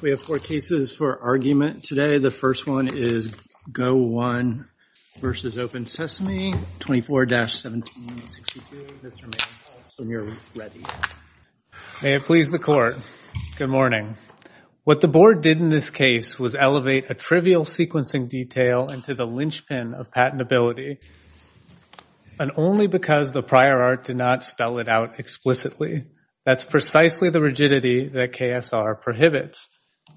We have four cases for argument today. The first one is GO1 v. OpenSesame, 24-1762. Mr. Mangels, when you're ready. May it please the court, good morning. What the board did in this case was elevate a trivial sequencing detail into the linchpin of patentability, and only because the prior art did not spell it out explicitly. That's precisely the rigidity that KSR prohibits.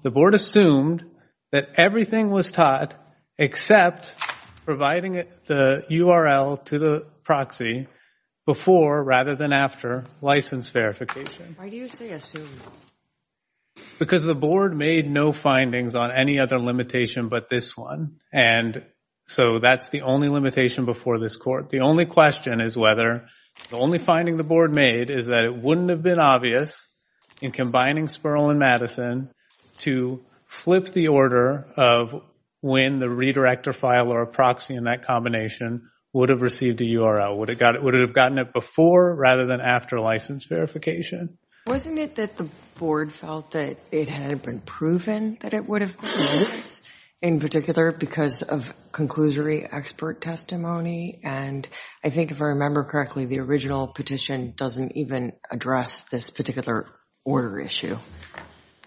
The board assumed that everything was taught except providing the URL to the proxy before rather than after license verification. Why do you say assumed? Because the board made no findings on any other limitation but this one, and so that's the only limitation before this court. The only question is whether, the only finding the board made is that it wouldn't have been obvious in combining Sperl and Madison to flip the order of when the redirector file or a proxy in that combination would have received a URL. Would it have gotten it before rather than after license verification? Wasn't it that the board felt that it had been proven that it would have been used in particular because of conclusory expert testimony? And I think if I remember correctly, the original petition doesn't even address this particular order issue.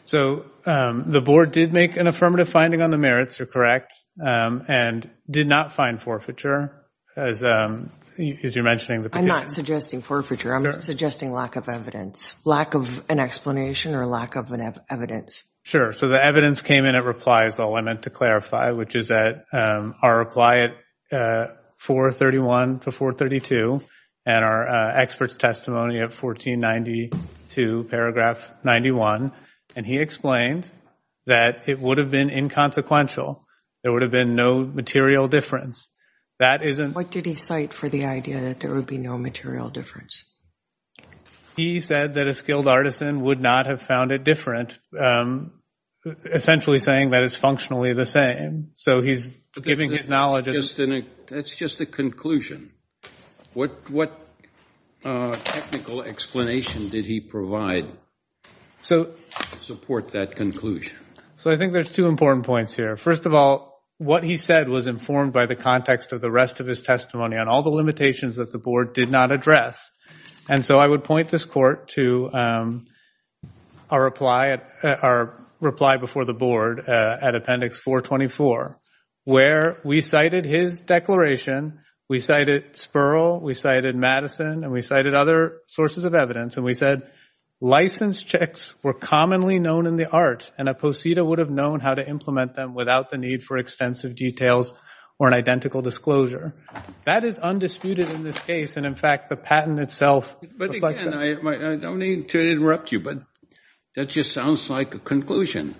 So the board did make an affirmative finding on the merits, you're correct, and did not find forfeiture as you're mentioning the petition. I'm not suggesting forfeiture, I'm suggesting lack of evidence, lack of an explanation or lack of evidence. Sure, so the evidence came in at replies all, I meant to clarify, which is at our reply at 431 to 432, and our expert's testimony of 1492 paragraph 91, and he explained that it would have been inconsequential. There would have been no material difference. That isn't. What did he cite for the idea that there would be no material difference? He said that a skilled artisan would not have found it different, essentially saying that it's functionally the same. So he's giving his knowledge. That's just a conclusion. What technical explanation did he provide to support that conclusion? So I think there's two important points here. First of all, what he said was informed by the context of the rest of his testimony on all the limitations that the board did not address. And so I would point this court to our reply before the board at appendix 424, where we cited his declaration, we cited Spurl, we cited Madison, and we cited other sources of evidence. And we said, license checks were commonly known in the art and a posita would have known how to implement them without the need for extensive details or an identical disclosure. That is undisputed in this case. And in fact, the patent itself reflects that. But again, I don't need to interrupt you, but that just sounds like a conclusion.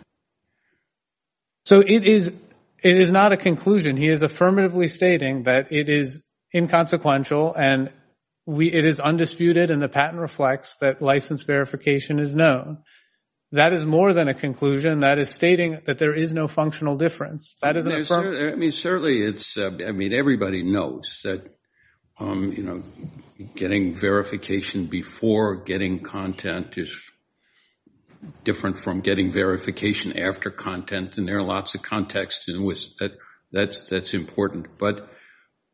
So it is not a conclusion. He is affirmatively stating that it is inconsequential and it is undisputed and the patent reflects that license verification is known. That is more than a conclusion. That is stating that there is no functional difference. That is an affirmation. I mean, certainly it's, I mean, everybody knows that getting verification before getting content is different from getting verification after content. And there are lots of contexts in which that's important. But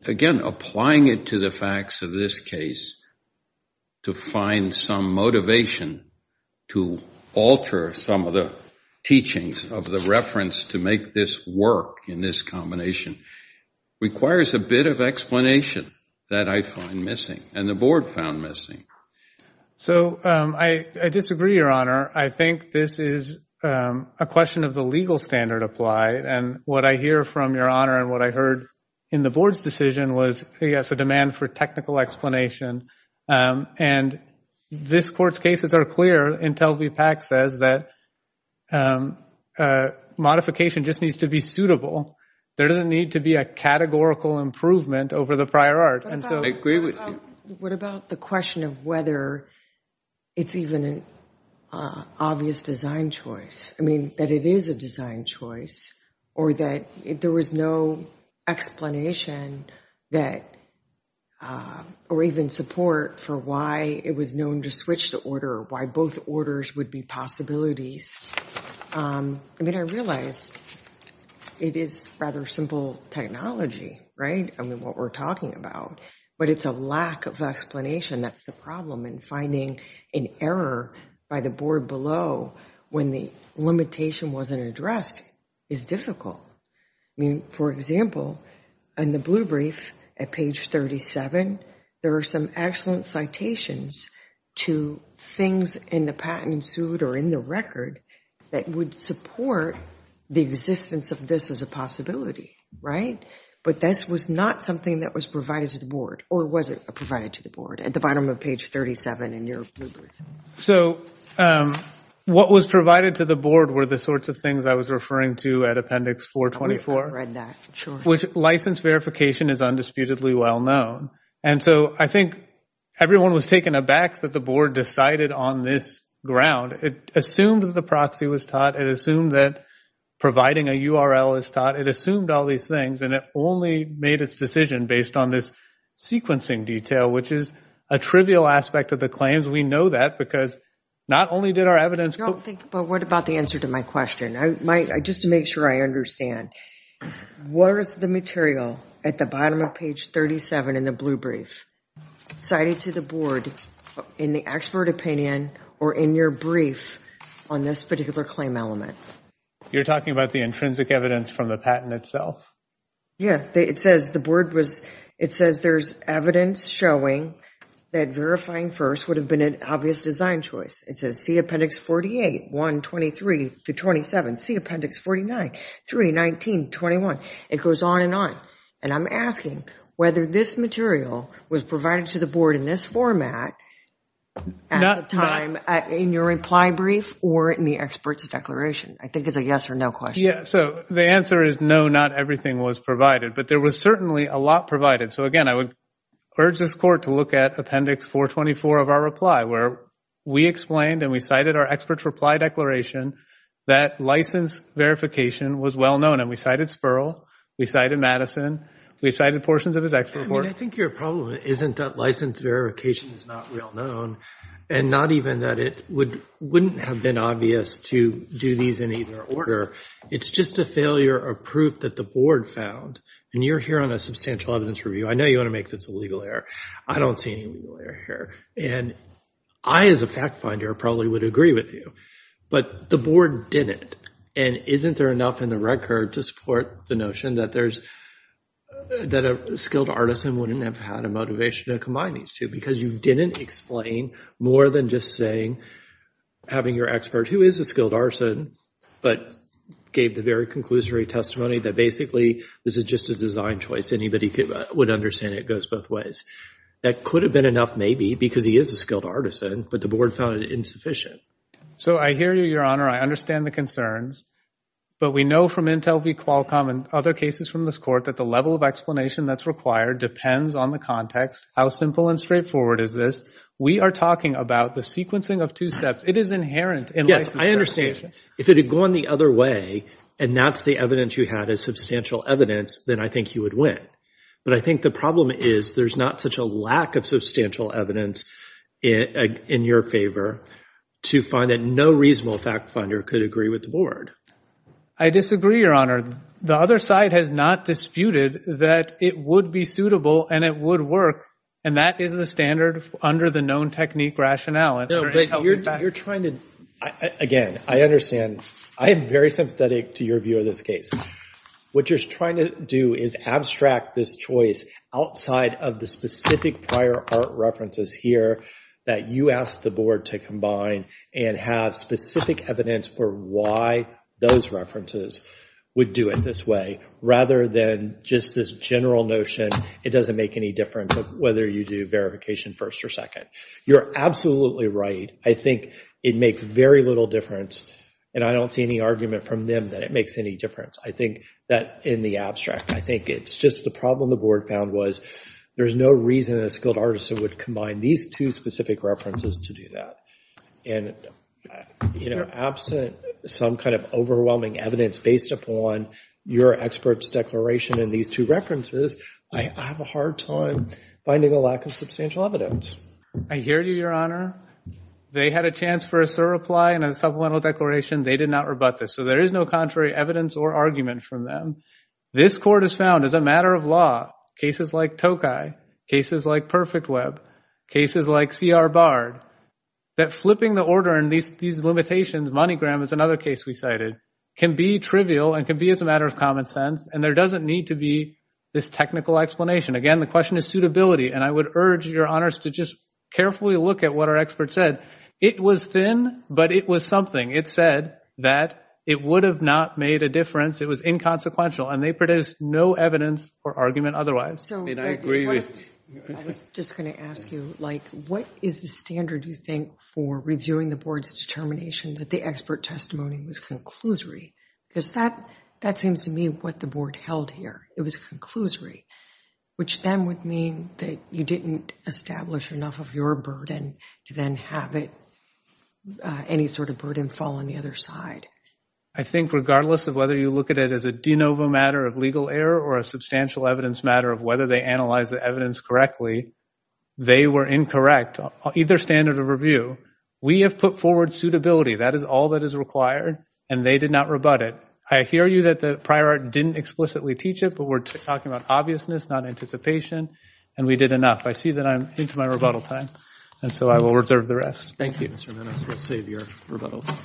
again, applying it to the facts of this case to find some motivation to alter some of the teachings of the reference to make this work in this combination requires a bit of explanation that I find missing and the board found missing. So I disagree, Your Honor. I think this is a question of the legal standard applied. And what I hear from Your Honor and what I heard in the board's decision was, yes, a demand for technical explanation. And this court's cases are clear until VPAC says that modification just needs to be suitable. There doesn't need to be a categorical improvement over the prior art. And so- I agree with you. What about the question of whether it's even obvious design choice? I mean, that it is a design choice or that there was no explanation that, or even support for why it was known to switch the order, why both orders would be possibilities. I mean, I realize it is rather simple technology, right? I mean, what we're talking about. But it's a lack of explanation that's the problem and finding an error by the board below when the limitation wasn't addressed is difficult. I mean, for example, in the blue brief at page 37, there are some excellent citations to things in the patent suit or in the record that would support the existence of this as a possibility, right? But this was not something that was provided to the board or wasn't provided to the board at the bottom of page 37 in your blue brief. So what was provided to the board were the sorts of things I was referring to at appendix 424. I read that, sure. Which license verification is undisputedly well known. And so I think everyone was taken aback that the board decided on this ground. It assumed that the proxy was taught. It assumed that providing a URL is taught. It assumed all these things and it only made its decision based on this sequencing detail, which is a trivial aspect of the claims. We know that because not only did our evidence- I don't think, but what about the answer to my question? Just to make sure I understand, what is the material at the bottom of page 37 in the blue brief cited to the board in the expert opinion or in your brief on this particular claim element? You're talking about the intrinsic evidence from the patent itself? Yeah, it says the board was, it says there's evidence showing that verifying first would have been an obvious design choice. It says see appendix 48, 123 to 27. See appendix 49, 3, 19, 21. It goes on and on. And I'm asking whether this material was provided to the board in this format at the time in your reply brief or in the expert's declaration. I think it's a yes or no question. Yeah, so the answer is no, not everything was provided. But there was certainly a lot provided. So again, I would urge this court to look at appendix 424 of our reply where we explained and we cited our expert's reply declaration that license verification was well-known. And we cited Spurl, we cited Madison, we cited portions of his expert report. I mean, I think your problem isn't that license verification is not well-known and not even that it wouldn't have been obvious to do these in either order. It's just a failure of proof that the board found. And you're here on a substantial evidence review. I know you want to make this a legal error. I don't see any legal error here. And I, as a fact finder, probably would agree with you. But the board didn't. And isn't there enough in the record to support the notion that a skilled artisan wouldn't have had a motivation to combine these two because you didn't explain more than just saying, having your expert who is a skilled artisan, but gave the very conclusory testimony that basically this is just a design choice. Anybody would understand it goes both ways. That could have been enough maybe because he is a skilled artisan, but the board found it insufficient. So I hear you, Your Honor. I understand the concerns. But we know from Intel v. Qualcomm and other cases from this court that the level of explanation that's required depends on the context. How simple and straightforward is this? We are talking about the sequencing of two steps. It is inherent in license verification. If it had gone the other way, and that's the evidence you had as substantial evidence, then I think you would win. But I think the problem is there's not such a lack of substantial evidence in your favor to find that no reasonable fact finder could agree with the board. I disagree, Your Honor. The other side has not disputed that it would be suitable and it would work. And that is the standard under the known technique rationale. No, but you're trying to, again, I am very sympathetic to your view of this case. What you're trying to do is abstract this choice outside of the specific prior art references here that you asked the board to combine and have specific evidence for why those references would do it this way, rather than just this general notion, it doesn't make any difference whether you do verification first or second. You're absolutely right. I think it makes very little difference, and I don't see any argument from them that it makes any difference. I think that in the abstract, I think it's just the problem the board found was there's no reason a skilled artisan would combine these two specific references to do that. And absent some kind of overwhelming evidence based upon your expert's declaration and these two references, I have a hard time finding a lack of substantial evidence. I hear you, Your Honor. They had a chance for a surreply and a supplemental declaration. They did not rebut this. So there is no contrary evidence or argument from them. This court has found, as a matter of law, cases like Tokai, cases like Perfect Web, cases like C.R. Bard, that flipping the order in these limitations, MoneyGram is another case we cited, can be trivial and can be as a matter of common sense. And there doesn't need to be this technical explanation. Again, the question is suitability. And I would urge your honors to just carefully look at what our expert said. It was thin, but it was something. It said that it would have not made a difference. It was inconsequential. And they produced no evidence or argument otherwise. And I agree with you. I was just going to ask you, what is the standard, you think, for reviewing the board's determination that the expert testimony was conclusory, because that seems to me what the board held here. It was conclusory, which then would mean that you didn't establish enough of your burden to then have any sort of burden fall on the other side. I think regardless of whether you look at it as a de novo matter of legal error or a substantial evidence matter of whether they analyzed the evidence correctly, they were incorrect, either standard of review. We have put forward suitability. That is all that is required. And they did not rebut it. I hear you that the prior art didn't explicitly teach it, but we're talking about obviousness, not anticipation. And we did enough. I see that I'm into my rebuttal time. And so I will reserve the rest. Thank you, Mr. Minnis. We'll save your rebuttal time.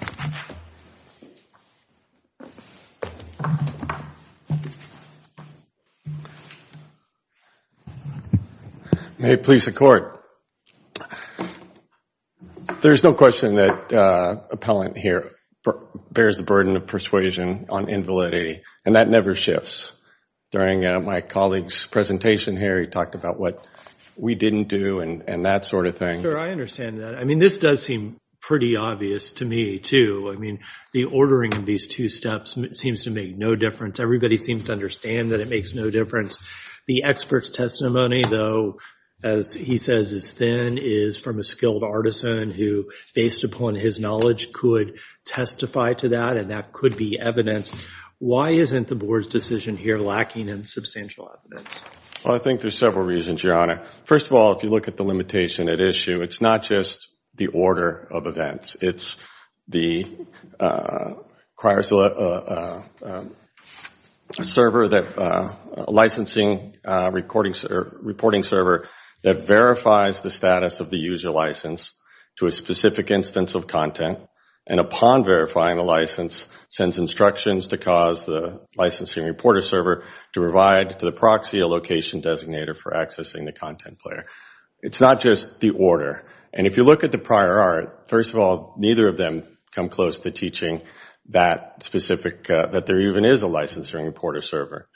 May it please the court. There's no question that appellant here bears the burden of persuasion on invalidity. And that never shifts. During my colleague's presentation here, he talked about what we didn't do and that sort of thing. Sure, I understand that. I mean, this does seem pretty obvious to me, too. I mean, the ordering of these two steps seems to make no difference. Everybody seems to understand that it makes no difference. The expert's testimony, though, as he says is thin, is from a skilled artisan who, based upon his knowledge, could testify to that. And that could be evidence. Why isn't the board's decision here lacking in substantial evidence? Well, I think there's several reasons, Your Honor. First of all, if you look at the limitation at issue, it's not just the order of events. It's the licensing reporting server that verifies the status of the user license to a specific instance of content. And upon verifying the license, sends instructions to cause the licensing reporter server to provide to the proxy a location designator for accessing the content player. It's not just the order. And if you look at the prior art, first of all, neither of them come close to teaching that specific, that there even is a licensing reporter server.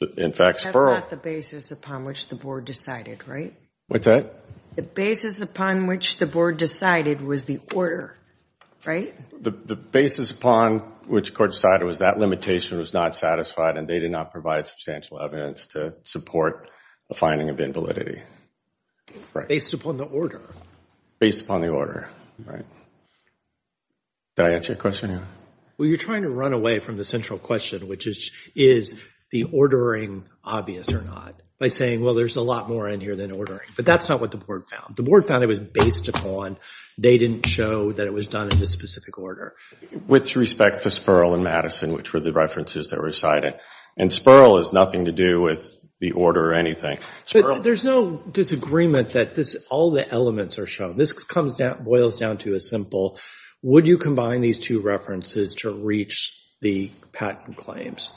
That's not the basis upon which the board decided, right? What's that? The basis upon which the board decided was the order, right? The basis upon which court decided was that limitation was not satisfied, and they did not provide substantial evidence to support the finding of invalidity. Based upon the order. Based upon the order, right. Did I answer your question, Your Honor? Well, you're trying to run away from the central question, which is, is the ordering obvious or not, by saying, well, there's a lot more in here than ordering. But that's not what the board found. The board found it was based upon, they didn't show that it was done in this specific order. With respect to Spurl and Madison, which were the references that were cited. And Spurl has nothing to do with the order or anything. There's no disagreement that all the elements are shown. This boils down to a simple, would you combine these two references to reach the patent claims?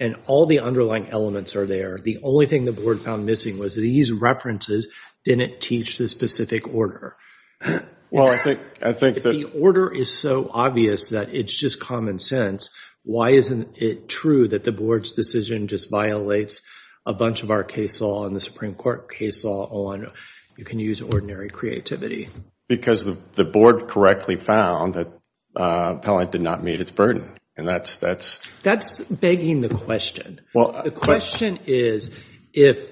And all the underlying elements are there. The only thing the board found missing was that these references didn't teach the specific order. Well, I think that the order is so obvious that it's just common sense. Why isn't it true that the board's decision just violates a bunch of our case law and the Supreme Court case law on, you can use ordinary creativity? Because the board correctly found that Appellant did not meet its burden. And that's. That's begging the question. The question is, if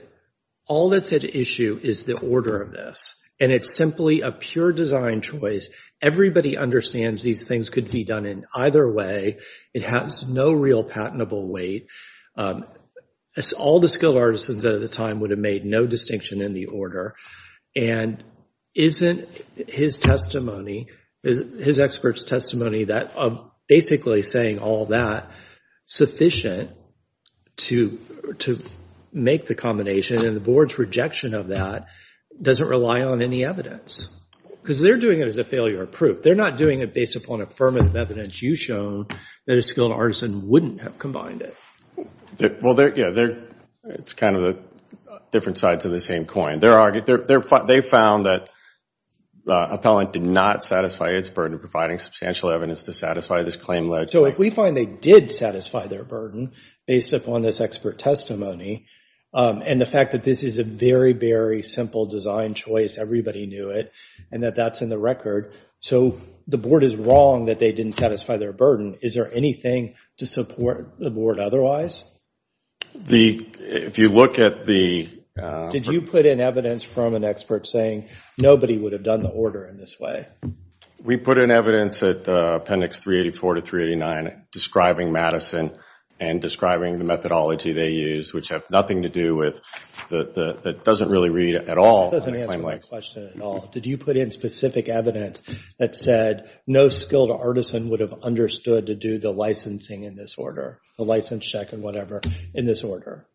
all that's at issue is the order of this, and it's simply a pure design choice, everybody understands these things could be done in either way. It has no real patentable weight. All the skilled artisans at the time would have made no distinction in the order. And isn't his testimony, his expert's testimony, basically saying all that, sufficient to make the combination? And the board's rejection of that doesn't rely on any evidence. Because they're doing it as a failure of proof. They're not doing it based upon affirmative evidence you've shown that a skilled artisan wouldn't have combined it. Well, it's kind of the different sides of the same coin. They found that Appellant did not satisfy its burden of providing substantial evidence to satisfy this claim. So if we find they did satisfy their burden based upon this expert testimony, and the fact that this is a very, very simple design choice, everybody knew it, and that that's in the record, so the board is wrong that they didn't satisfy their burden. Is there anything to support the board otherwise? If you look at the. Did you put in evidence from an expert saying, nobody would have done the order in this way? We put in evidence at Appendix 384 to 389 describing Madison and describing the methodology they used, which have nothing to do with, that doesn't really read at all. That doesn't answer my question at all. Did you put in specific evidence that said no skilled artisan would have understood to do the licensing in this order, the license check and whatever in this order?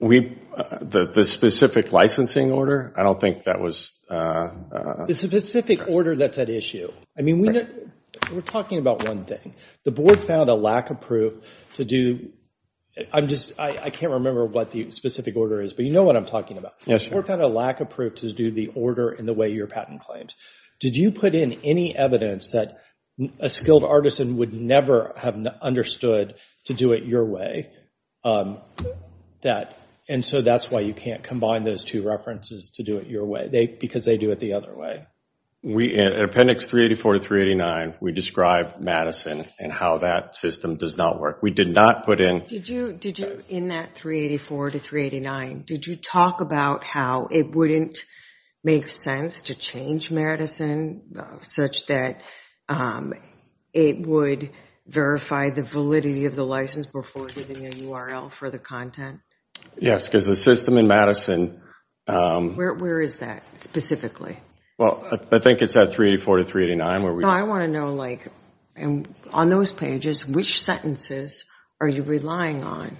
The specific licensing order, I don't think that was. The specific order that's at issue. I mean, we're talking about one thing. The board found a lack of proof to do. I can't remember what the specific order is, but you know what I'm talking about. The board found a lack of proof to do the order in the way your patent claims. Did you put in any evidence that a skilled artisan would never have understood to do it your way? And so that's why you can't combine those two references because they do it the other way. We, at Appendix 384 to 389, we describe Madison and how that system does not work. We did not put in. Did you, in that 384 to 389, did you talk about how it wouldn't make sense to change Madison such that it would verify the validity of the license before giving a URL for the content? Yes, because the system in Madison. Where is that, specifically? Well, I think it's at 384 to 389 where we. No, I want to know, on those pages, which sentences are you relying on?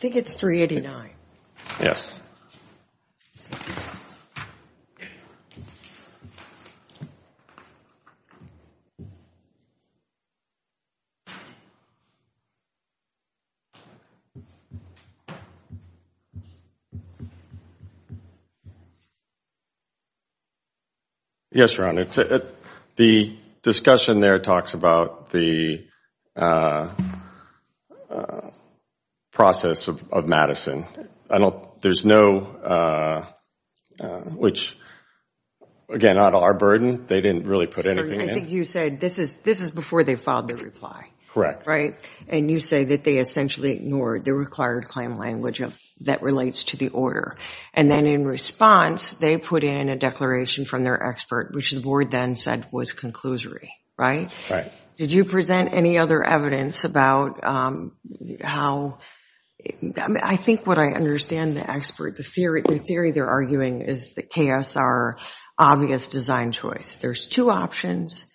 I think it's 389. Yes. Yes, Your Honor. The discussion there talks about the process of Madison. There's no, which, again, out of our burden, they didn't really put anything in. I think you said this is before they filed their reply. Correct. And you say that they essentially ignored the required claim language that relates to the order. And then in response, they put in a declaration from their expert, which the board then said was conclusory. Right. Did you present any other evidence about how? I think what I understand the expert, the theory they're arguing is that KSR, obvious design choice. There's two options.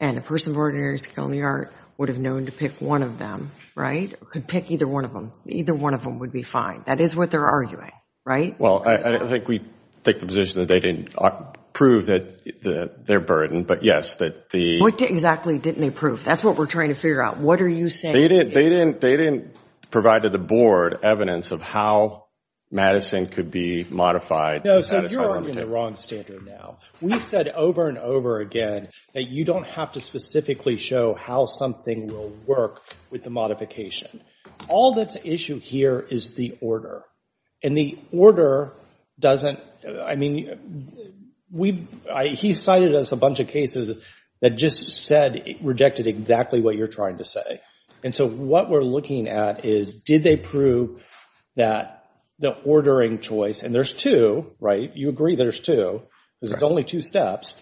And a person of ordinary skill in the art would have known to pick one of them, right? Could pick either one of them. Either one of them would be fine. That is what they're arguing, right? Well, I think we take the position that they didn't prove their burden. But yes, that the- What exactly didn't they prove? That's what we're trying to figure out. What are you saying? They didn't provide to the board evidence of how Madison could be modified. No, so you're arguing the wrong standard now. We've said over and over again that you don't have to specifically show how something will work with the modification. All that's at issue here is the order. And the order doesn't, I mean, he cited us a bunch of cases that just said, rejected exactly what you're trying to say. And so what we're looking at is, did they prove that the ordering choice, and there's two, right? You agree there's two, because it's only two steps,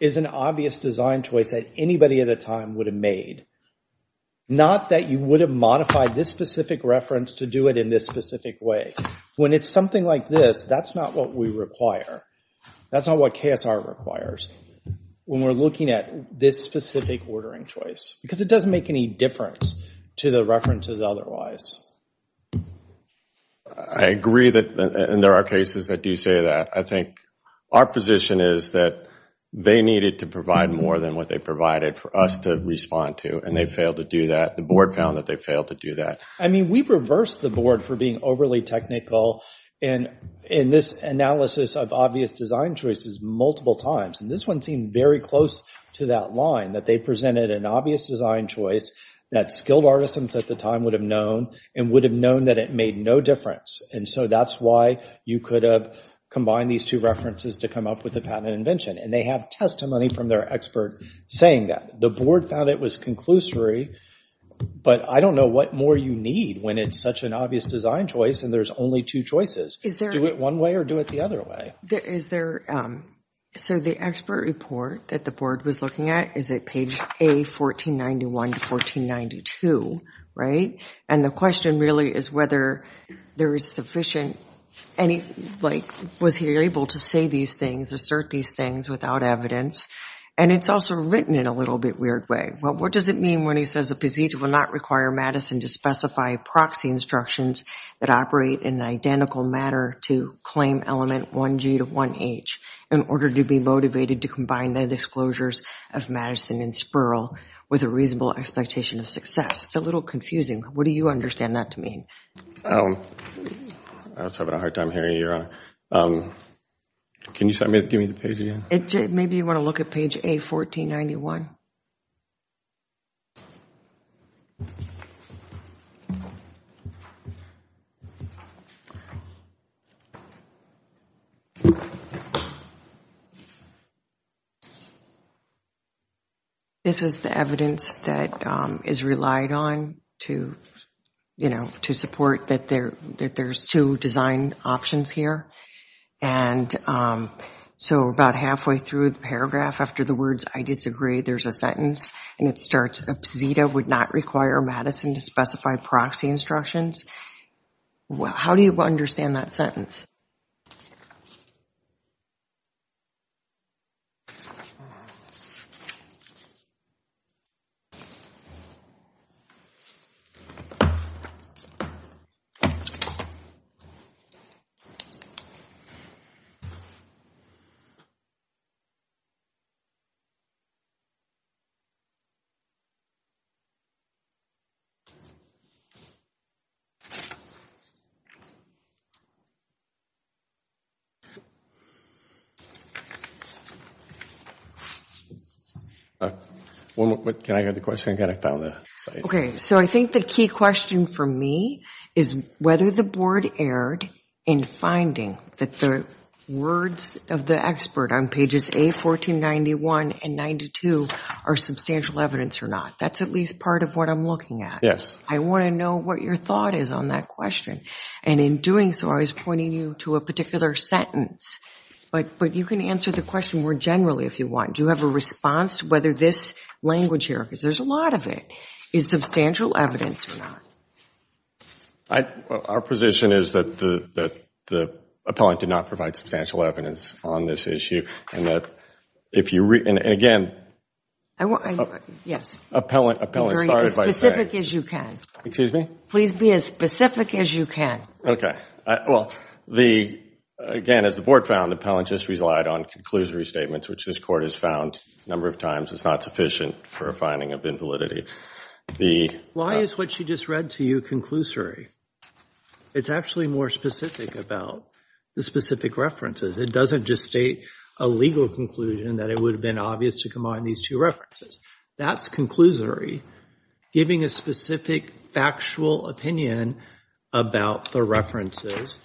is an obvious design choice that anybody at the time would have made. Not that you would have modified this specific reference to do it in this specific way. When it's something like this, that's not what we require. That's not what KSR requires when we're looking at this specific ordering choice. Because it doesn't make any difference to the references otherwise. I agree that there are cases that do say that. I think our position is that they needed to provide more than what they provided for us to respond to, and they failed to do that. The board found that they failed to do that. I mean, we reversed the board for being overly technical in this analysis of obvious design choices multiple times. And this one seemed very close to that line, that they presented an obvious design choice that skilled artisans at the time would have known, and would have known that it made no difference. And so that's why you could have combined these two references to come up with a patent invention. And they have testimony from their expert saying that. The board found it was conclusory, but I don't know what more you need when it's such an obvious design choice, and there's only two choices. Do it one way or do it the other way. So the expert report that the board was looking at is at page A1491 to 1492, right? And the question really is whether there is sufficient any, like, was he able to say these things, assert these things without evidence? And it's also written in a little bit weird way. Well, what does it mean when he says a procedure will not require Madison to specify proxy instructions that operate in an identical manner to claim element 1G to 1H in order to be motivated to combine the disclosures of Madison and Spurl with a reasonable expectation of success? It's a little confusing. What do you understand that to mean? I was having a hard time hearing you, Your Honor. Can you give me the page again? Maybe you want to look at page A1491. This is the evidence that is relied on to support that there's two design options here. And so about halfway through the paragraph, after the words, I disagree, there's a sentence. And it starts, APSITA would not require Madison to specify proxy instructions. How do you understand that sentence? Can I hear the question again? I found the slide. OK, so I think the key question for me is whether the board erred in finding that the words of the expert on pages A1491 and 92 are substantial evidence or not. That's at least part of what I'm looking at. I want to know what your thought is on that question. And in doing so, I was pointing you to a particular sentence. But you can answer the question more generally if you want. Do you have a response to whether this language here, because there's a lot of it, is substantial evidence or not? Our position is that the appellant did not provide substantial evidence on this issue. And again, appellant started by saying, please be as specific as you can. OK, well, again, as the board found, the appellant just relied on conclusory statements, which this court has found a number of times is not sufficient for a finding of invalidity. Why is what she just read to you conclusory? It's actually more specific about the specific references. It doesn't just state a legal conclusion that it would have been obvious to combine these two references. That's conclusory. Giving a specific factual opinion about the references,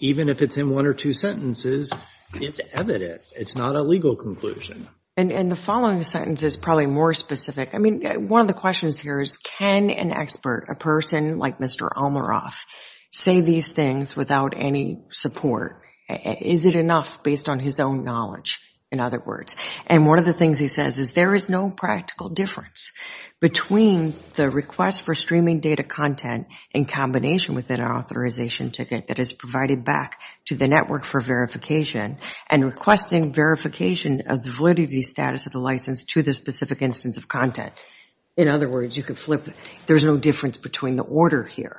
even if it's in one or two sentences, is evidence. It's not a legal conclusion. And the following sentence is probably more specific. I mean, one of the questions here is, can an expert, a person like Mr. Almoroff, say these things without any support? Is it enough based on his own knowledge, in other words? And one of the things he says is, there is no practical difference between the request for streaming data content in combination with an authorization ticket that is provided back to the network for verification and requesting verification of the validity status of the license to the specific instance of content. In other words, you could flip it. There's no difference between the order here.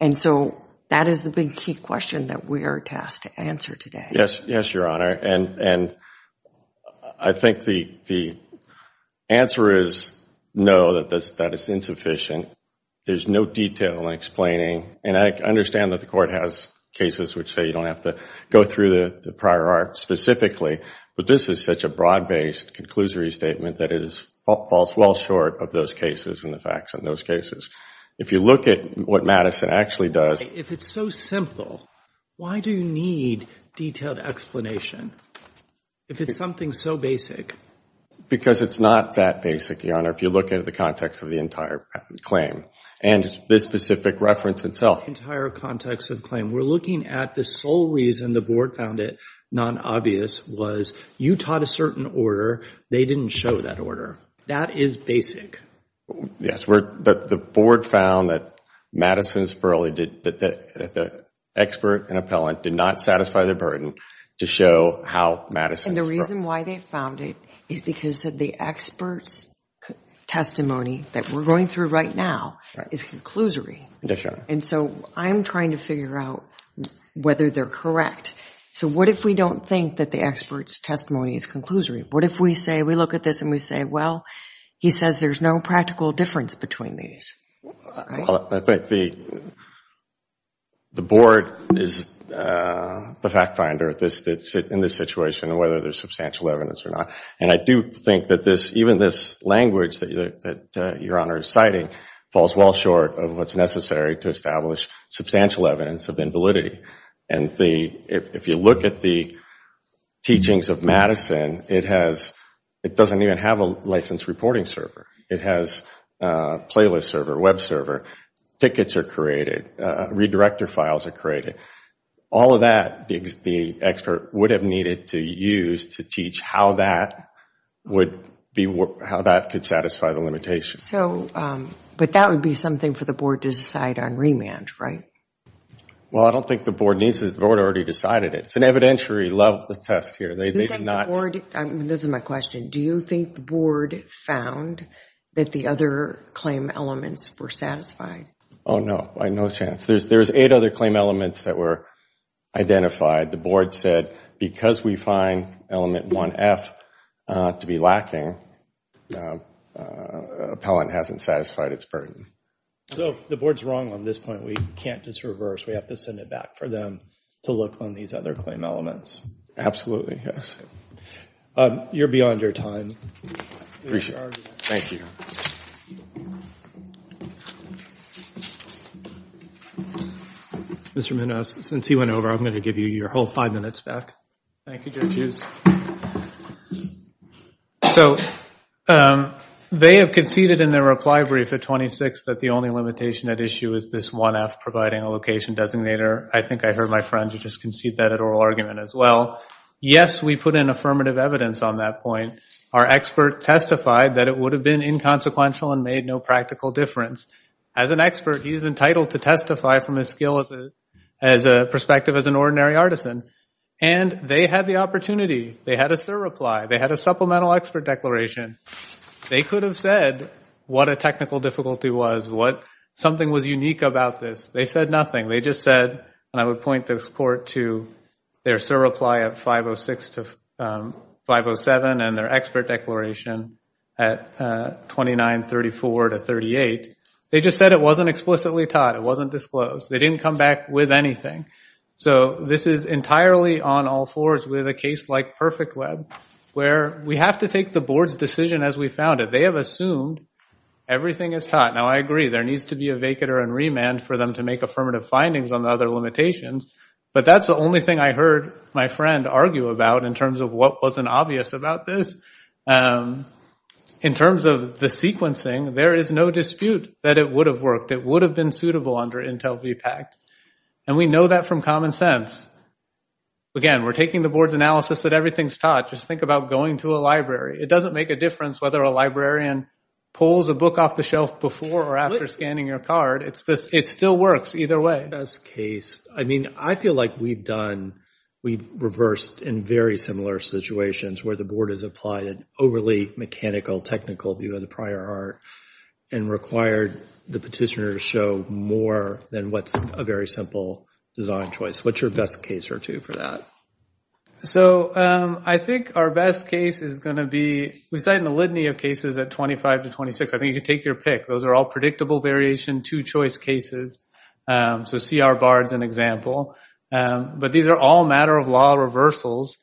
And so that is the big key question that we are tasked to answer today. Yes, yes, Your Honor. And I think the answer is no, that it's insufficient. There's no detail in explaining. And I understand that the court has cases which say you don't have to go through the prior art specifically. But this is such a broad-based conclusory statement that it falls well short of those cases and the facts in those cases. If you look at what Madison actually does. If it's so simple, why do you need detailed explanation if it's something so basic? Because it's not that basic, Your Honor, if you look at the context of the entire claim and this specific reference itself. Entire context of the claim. We're looking at the sole reason the board found it non-obvious was you taught a certain order. They didn't show that order. That is basic. Yes, the board found that Madison Sperling, that the expert and appellant did not satisfy their burden to show how Madison Sperling. And the reason why they found it is because of the expert's testimony that we're going through right now is conclusory. And so I'm trying to figure out whether they're correct. So what if we don't think that the expert's testimony is conclusory? What if we say, we look at this and we say, well, he says there's no practical difference between these. I think the board is the fact finder in this situation and whether there's substantial evidence or not. And I do think that even this language that Your Honor is citing falls well short of what's necessary to establish substantial evidence of invalidity. And if you look at the teachings of Madison, it doesn't even have a licensed reporting server. It has a playlist server, web server. Tickets are created. Redirector files are created. All of that the expert would have needed to use to teach how that could satisfy the limitations. But that would be something for the board to decide on remand, right? Well, I don't think the board needs it. The board already decided it. It's an evidentiary level of the test here. They did not. This is my question. Do you think the board found that the other claim elements were satisfied? Oh, no. By no chance. There's eight other claim elements that were identified. The board said, because we find element 1F to be lacking, appellant hasn't satisfied its burden. So the board's wrong on this point. We can't just reverse. We have to send it back for them to look on these other claim elements. Absolutely, yes. You're beyond your time. Appreciate it. Thank you. Mr. Munoz, since he went over, I'm going to give you your whole five minutes back. Thank you, Judge Hughes. So they have conceded in their reply brief at 26 that the only limitation at issue is this 1F providing a location designator. I think I heard my friend just concede that oral argument as well. Yes, we put in affirmative evidence on that point. Our expert testified that it would have been inconsequential and made no practical difference. As an expert, he is entitled to testify from his skill as a perspective as an ordinary artisan. And they had the opportunity to do so. They had a surreply. They had a supplemental expert declaration. They could have said what a technical difficulty was, what something was unique about this. They said nothing. They just said, and I would point this court to their surreply at 506 to 507 and their expert declaration at 2934 to 38. They just said it wasn't explicitly taught. It wasn't disclosed. They didn't come back with anything. So this is entirely on all fours with a case like PerfectWeb where we have to take the board's decision as we found it. They have assumed everything is taught. Now, I agree. There needs to be a vacater and remand for them to make affirmative findings on the other limitations. But that's the only thing I heard my friend argue about in terms of what wasn't obvious about this. In terms of the sequencing, there is no dispute that it would have worked. It would have been suitable under Intel VPACT. And we know that from common sense. Again, we're taking the board's analysis that everything's taught. Just think about going to a library. It doesn't make a difference whether a librarian pulls a book off the shelf before or after scanning your card. It still works either way. That's the case. I mean, I feel like we've reversed in very similar situations where the board has applied an overly mechanical technical view of the prior art and required the petitioner to show more than what's a very simple design choice. What's your best case or two for that? So I think our best case is going to be, we cite a litany of cases at 25 to 26. I think you can take your pick. Those are all predictable variation, two-choice cases. So CR Bard's an example. But these are all matter of law reversals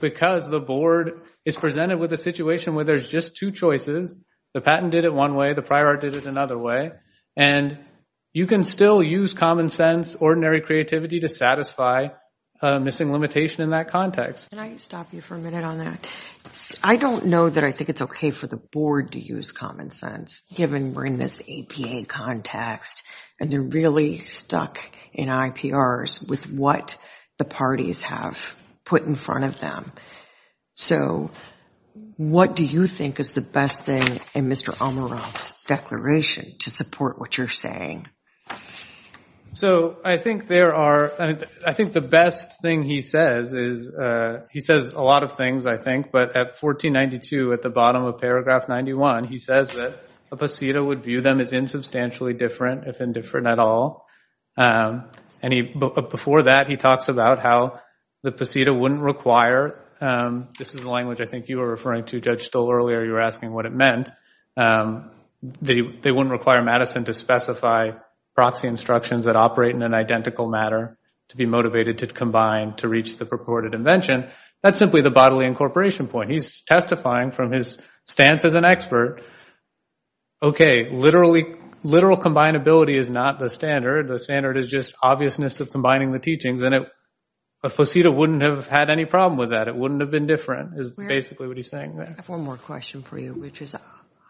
because the board is presented with a situation where there's just two choices. The patent did it one way. The prior art did it another way. And you can still use common sense, ordinary creativity to satisfy a missing limitation in that context. Can I stop you for a minute on that? I don't know that I think it's okay for the board to use common sense given we're in this APA context and they're really stuck in IPRs with what the parties have put in front of them. So what do you think is the best thing in Mr. Almiroth's declaration to support what you're saying? So I think there are, I think the best thing he says is he says a lot of things, I think. But at 1492, at the bottom of paragraph 91, he says that a posita would view them as insubstantially different, if indifferent at all. And before that, he talks about how the posita wouldn't require, this is the language I think you were referring to, a little earlier you were asking what it meant. They wouldn't require Madison to specify proxy instructions that operate in an identical matter to be motivated to combine to reach the purported invention. That's simply the bodily incorporation point. He's testifying from his stance as an expert. Okay, literal combinability is not the standard. The standard is just obviousness of combining the teachings. And a posita wouldn't have had any problem with that. It wouldn't have been different is basically what he's saying there. I have one more question for you, which is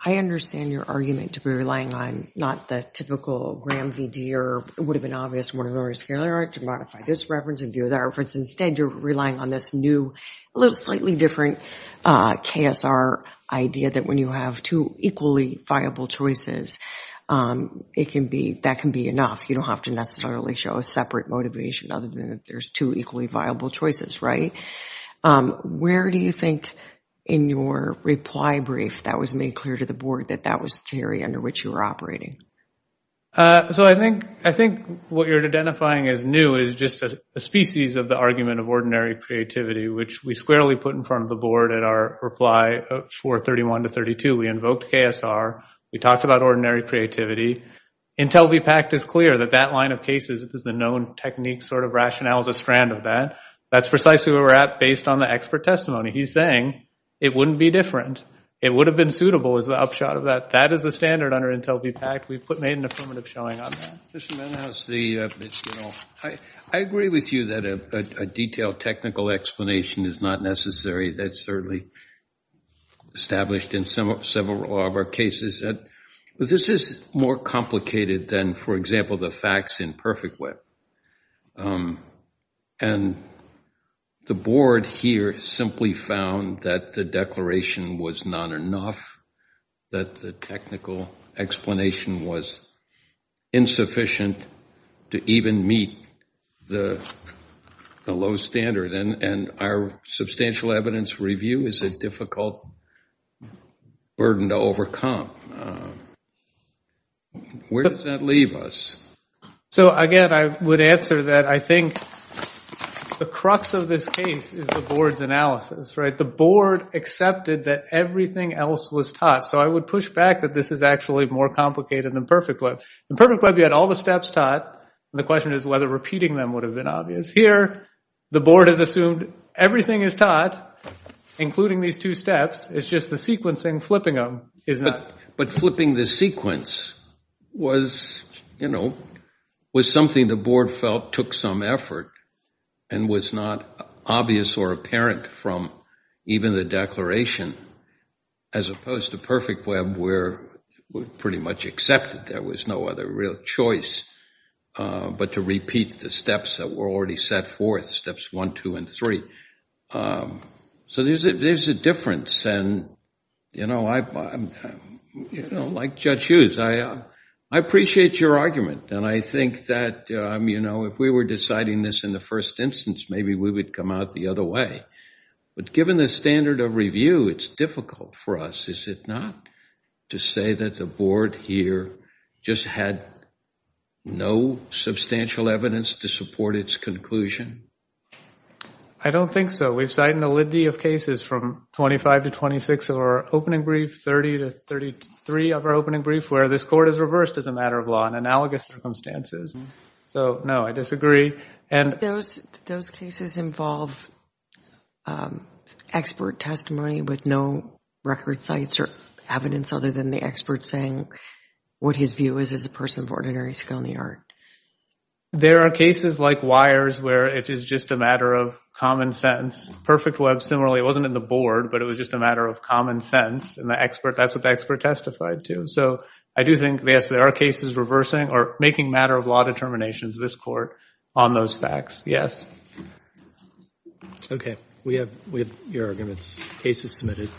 I understand your argument to be relying on not the typical RAM VD or it would have been obvious to modify this reference and do that reference. Instead, you're relying on this new, a little slightly different KSR idea that when you have two equally viable choices, it can be, that can be enough. You don't have to necessarily show a separate motivation other than if there's two equally viable choices, right? Where do you think in your reply brief that was made clear to the board that that was the theory under which you were operating? So I think what you're identifying as new is just a species of the argument of ordinary creativity, which we squarely put in front of the board at our reply for 31 to 32. We invoked KSR. We talked about ordinary creativity. Intel V-PACT is clear that that line of cases, this is the known technique sort of rationale is a strand of that. That's precisely where we're at based on the expert testimony. He's saying it wouldn't be different. It would have been suitable is the upshot of that. That is the standard under Intel V-PACT. We've made an affirmative showing on that. Mr. Mendenhouse, I agree with you that a detailed technical explanation is not necessary. That's certainly established in several of our cases. But this is more complicated than, for example, the facts in Perfect Web. And the board here simply found that the declaration was not enough, that the technical explanation was insufficient to even meet the low standard. And our substantial evidence review is a difficult burden to overcome. Where does that leave us? So again, I would answer that I think the crux of this case is the board's analysis, right? The board accepted that everything else was taught. So I would push back that this is actually more complicated than Perfect Web. In Perfect Web, you had all the steps taught. The question is whether repeating them would have been obvious. Here, the board has assumed everything is taught, including these two steps. It's just the sequencing, flipping them is not. But flipping the sequence was, you know, was something the board felt took some effort and was not obvious or apparent from even the declaration, as opposed to Perfect Web where we pretty much accepted there was no other real choice, but to repeat the steps that were already set forth, steps one, two, and three. So there's a difference. And, you know, like Judge Hughes, I appreciate your argument. And I think that, you know, if we were deciding this in the first instance, maybe we would come out the other way. But given the standard of review, it's difficult for us. Is it not to say that the board here just had no substantial evidence to support its conclusion? I don't think so. We've cited a litany of cases from 25 to 26 of our opening brief, 30 to 33 of our opening brief, where this court has reversed as a matter of law in analogous circumstances. So no, I disagree. And- Those cases involve expert testimony with no record sites or evidence other than the expert saying what his view is as a person of ordinary skill in the art. There are cases like Weyers where it is just a matter of common sense. Perfect Web, similarly, it wasn't in the board, but it was just a matter of common sense. And the expert, that's what the expert testified to. So I do think, yes, there are cases reversing or making matter of law determinations of this court on those facts. Yes. Okay, we have your arguments. Case is submitted.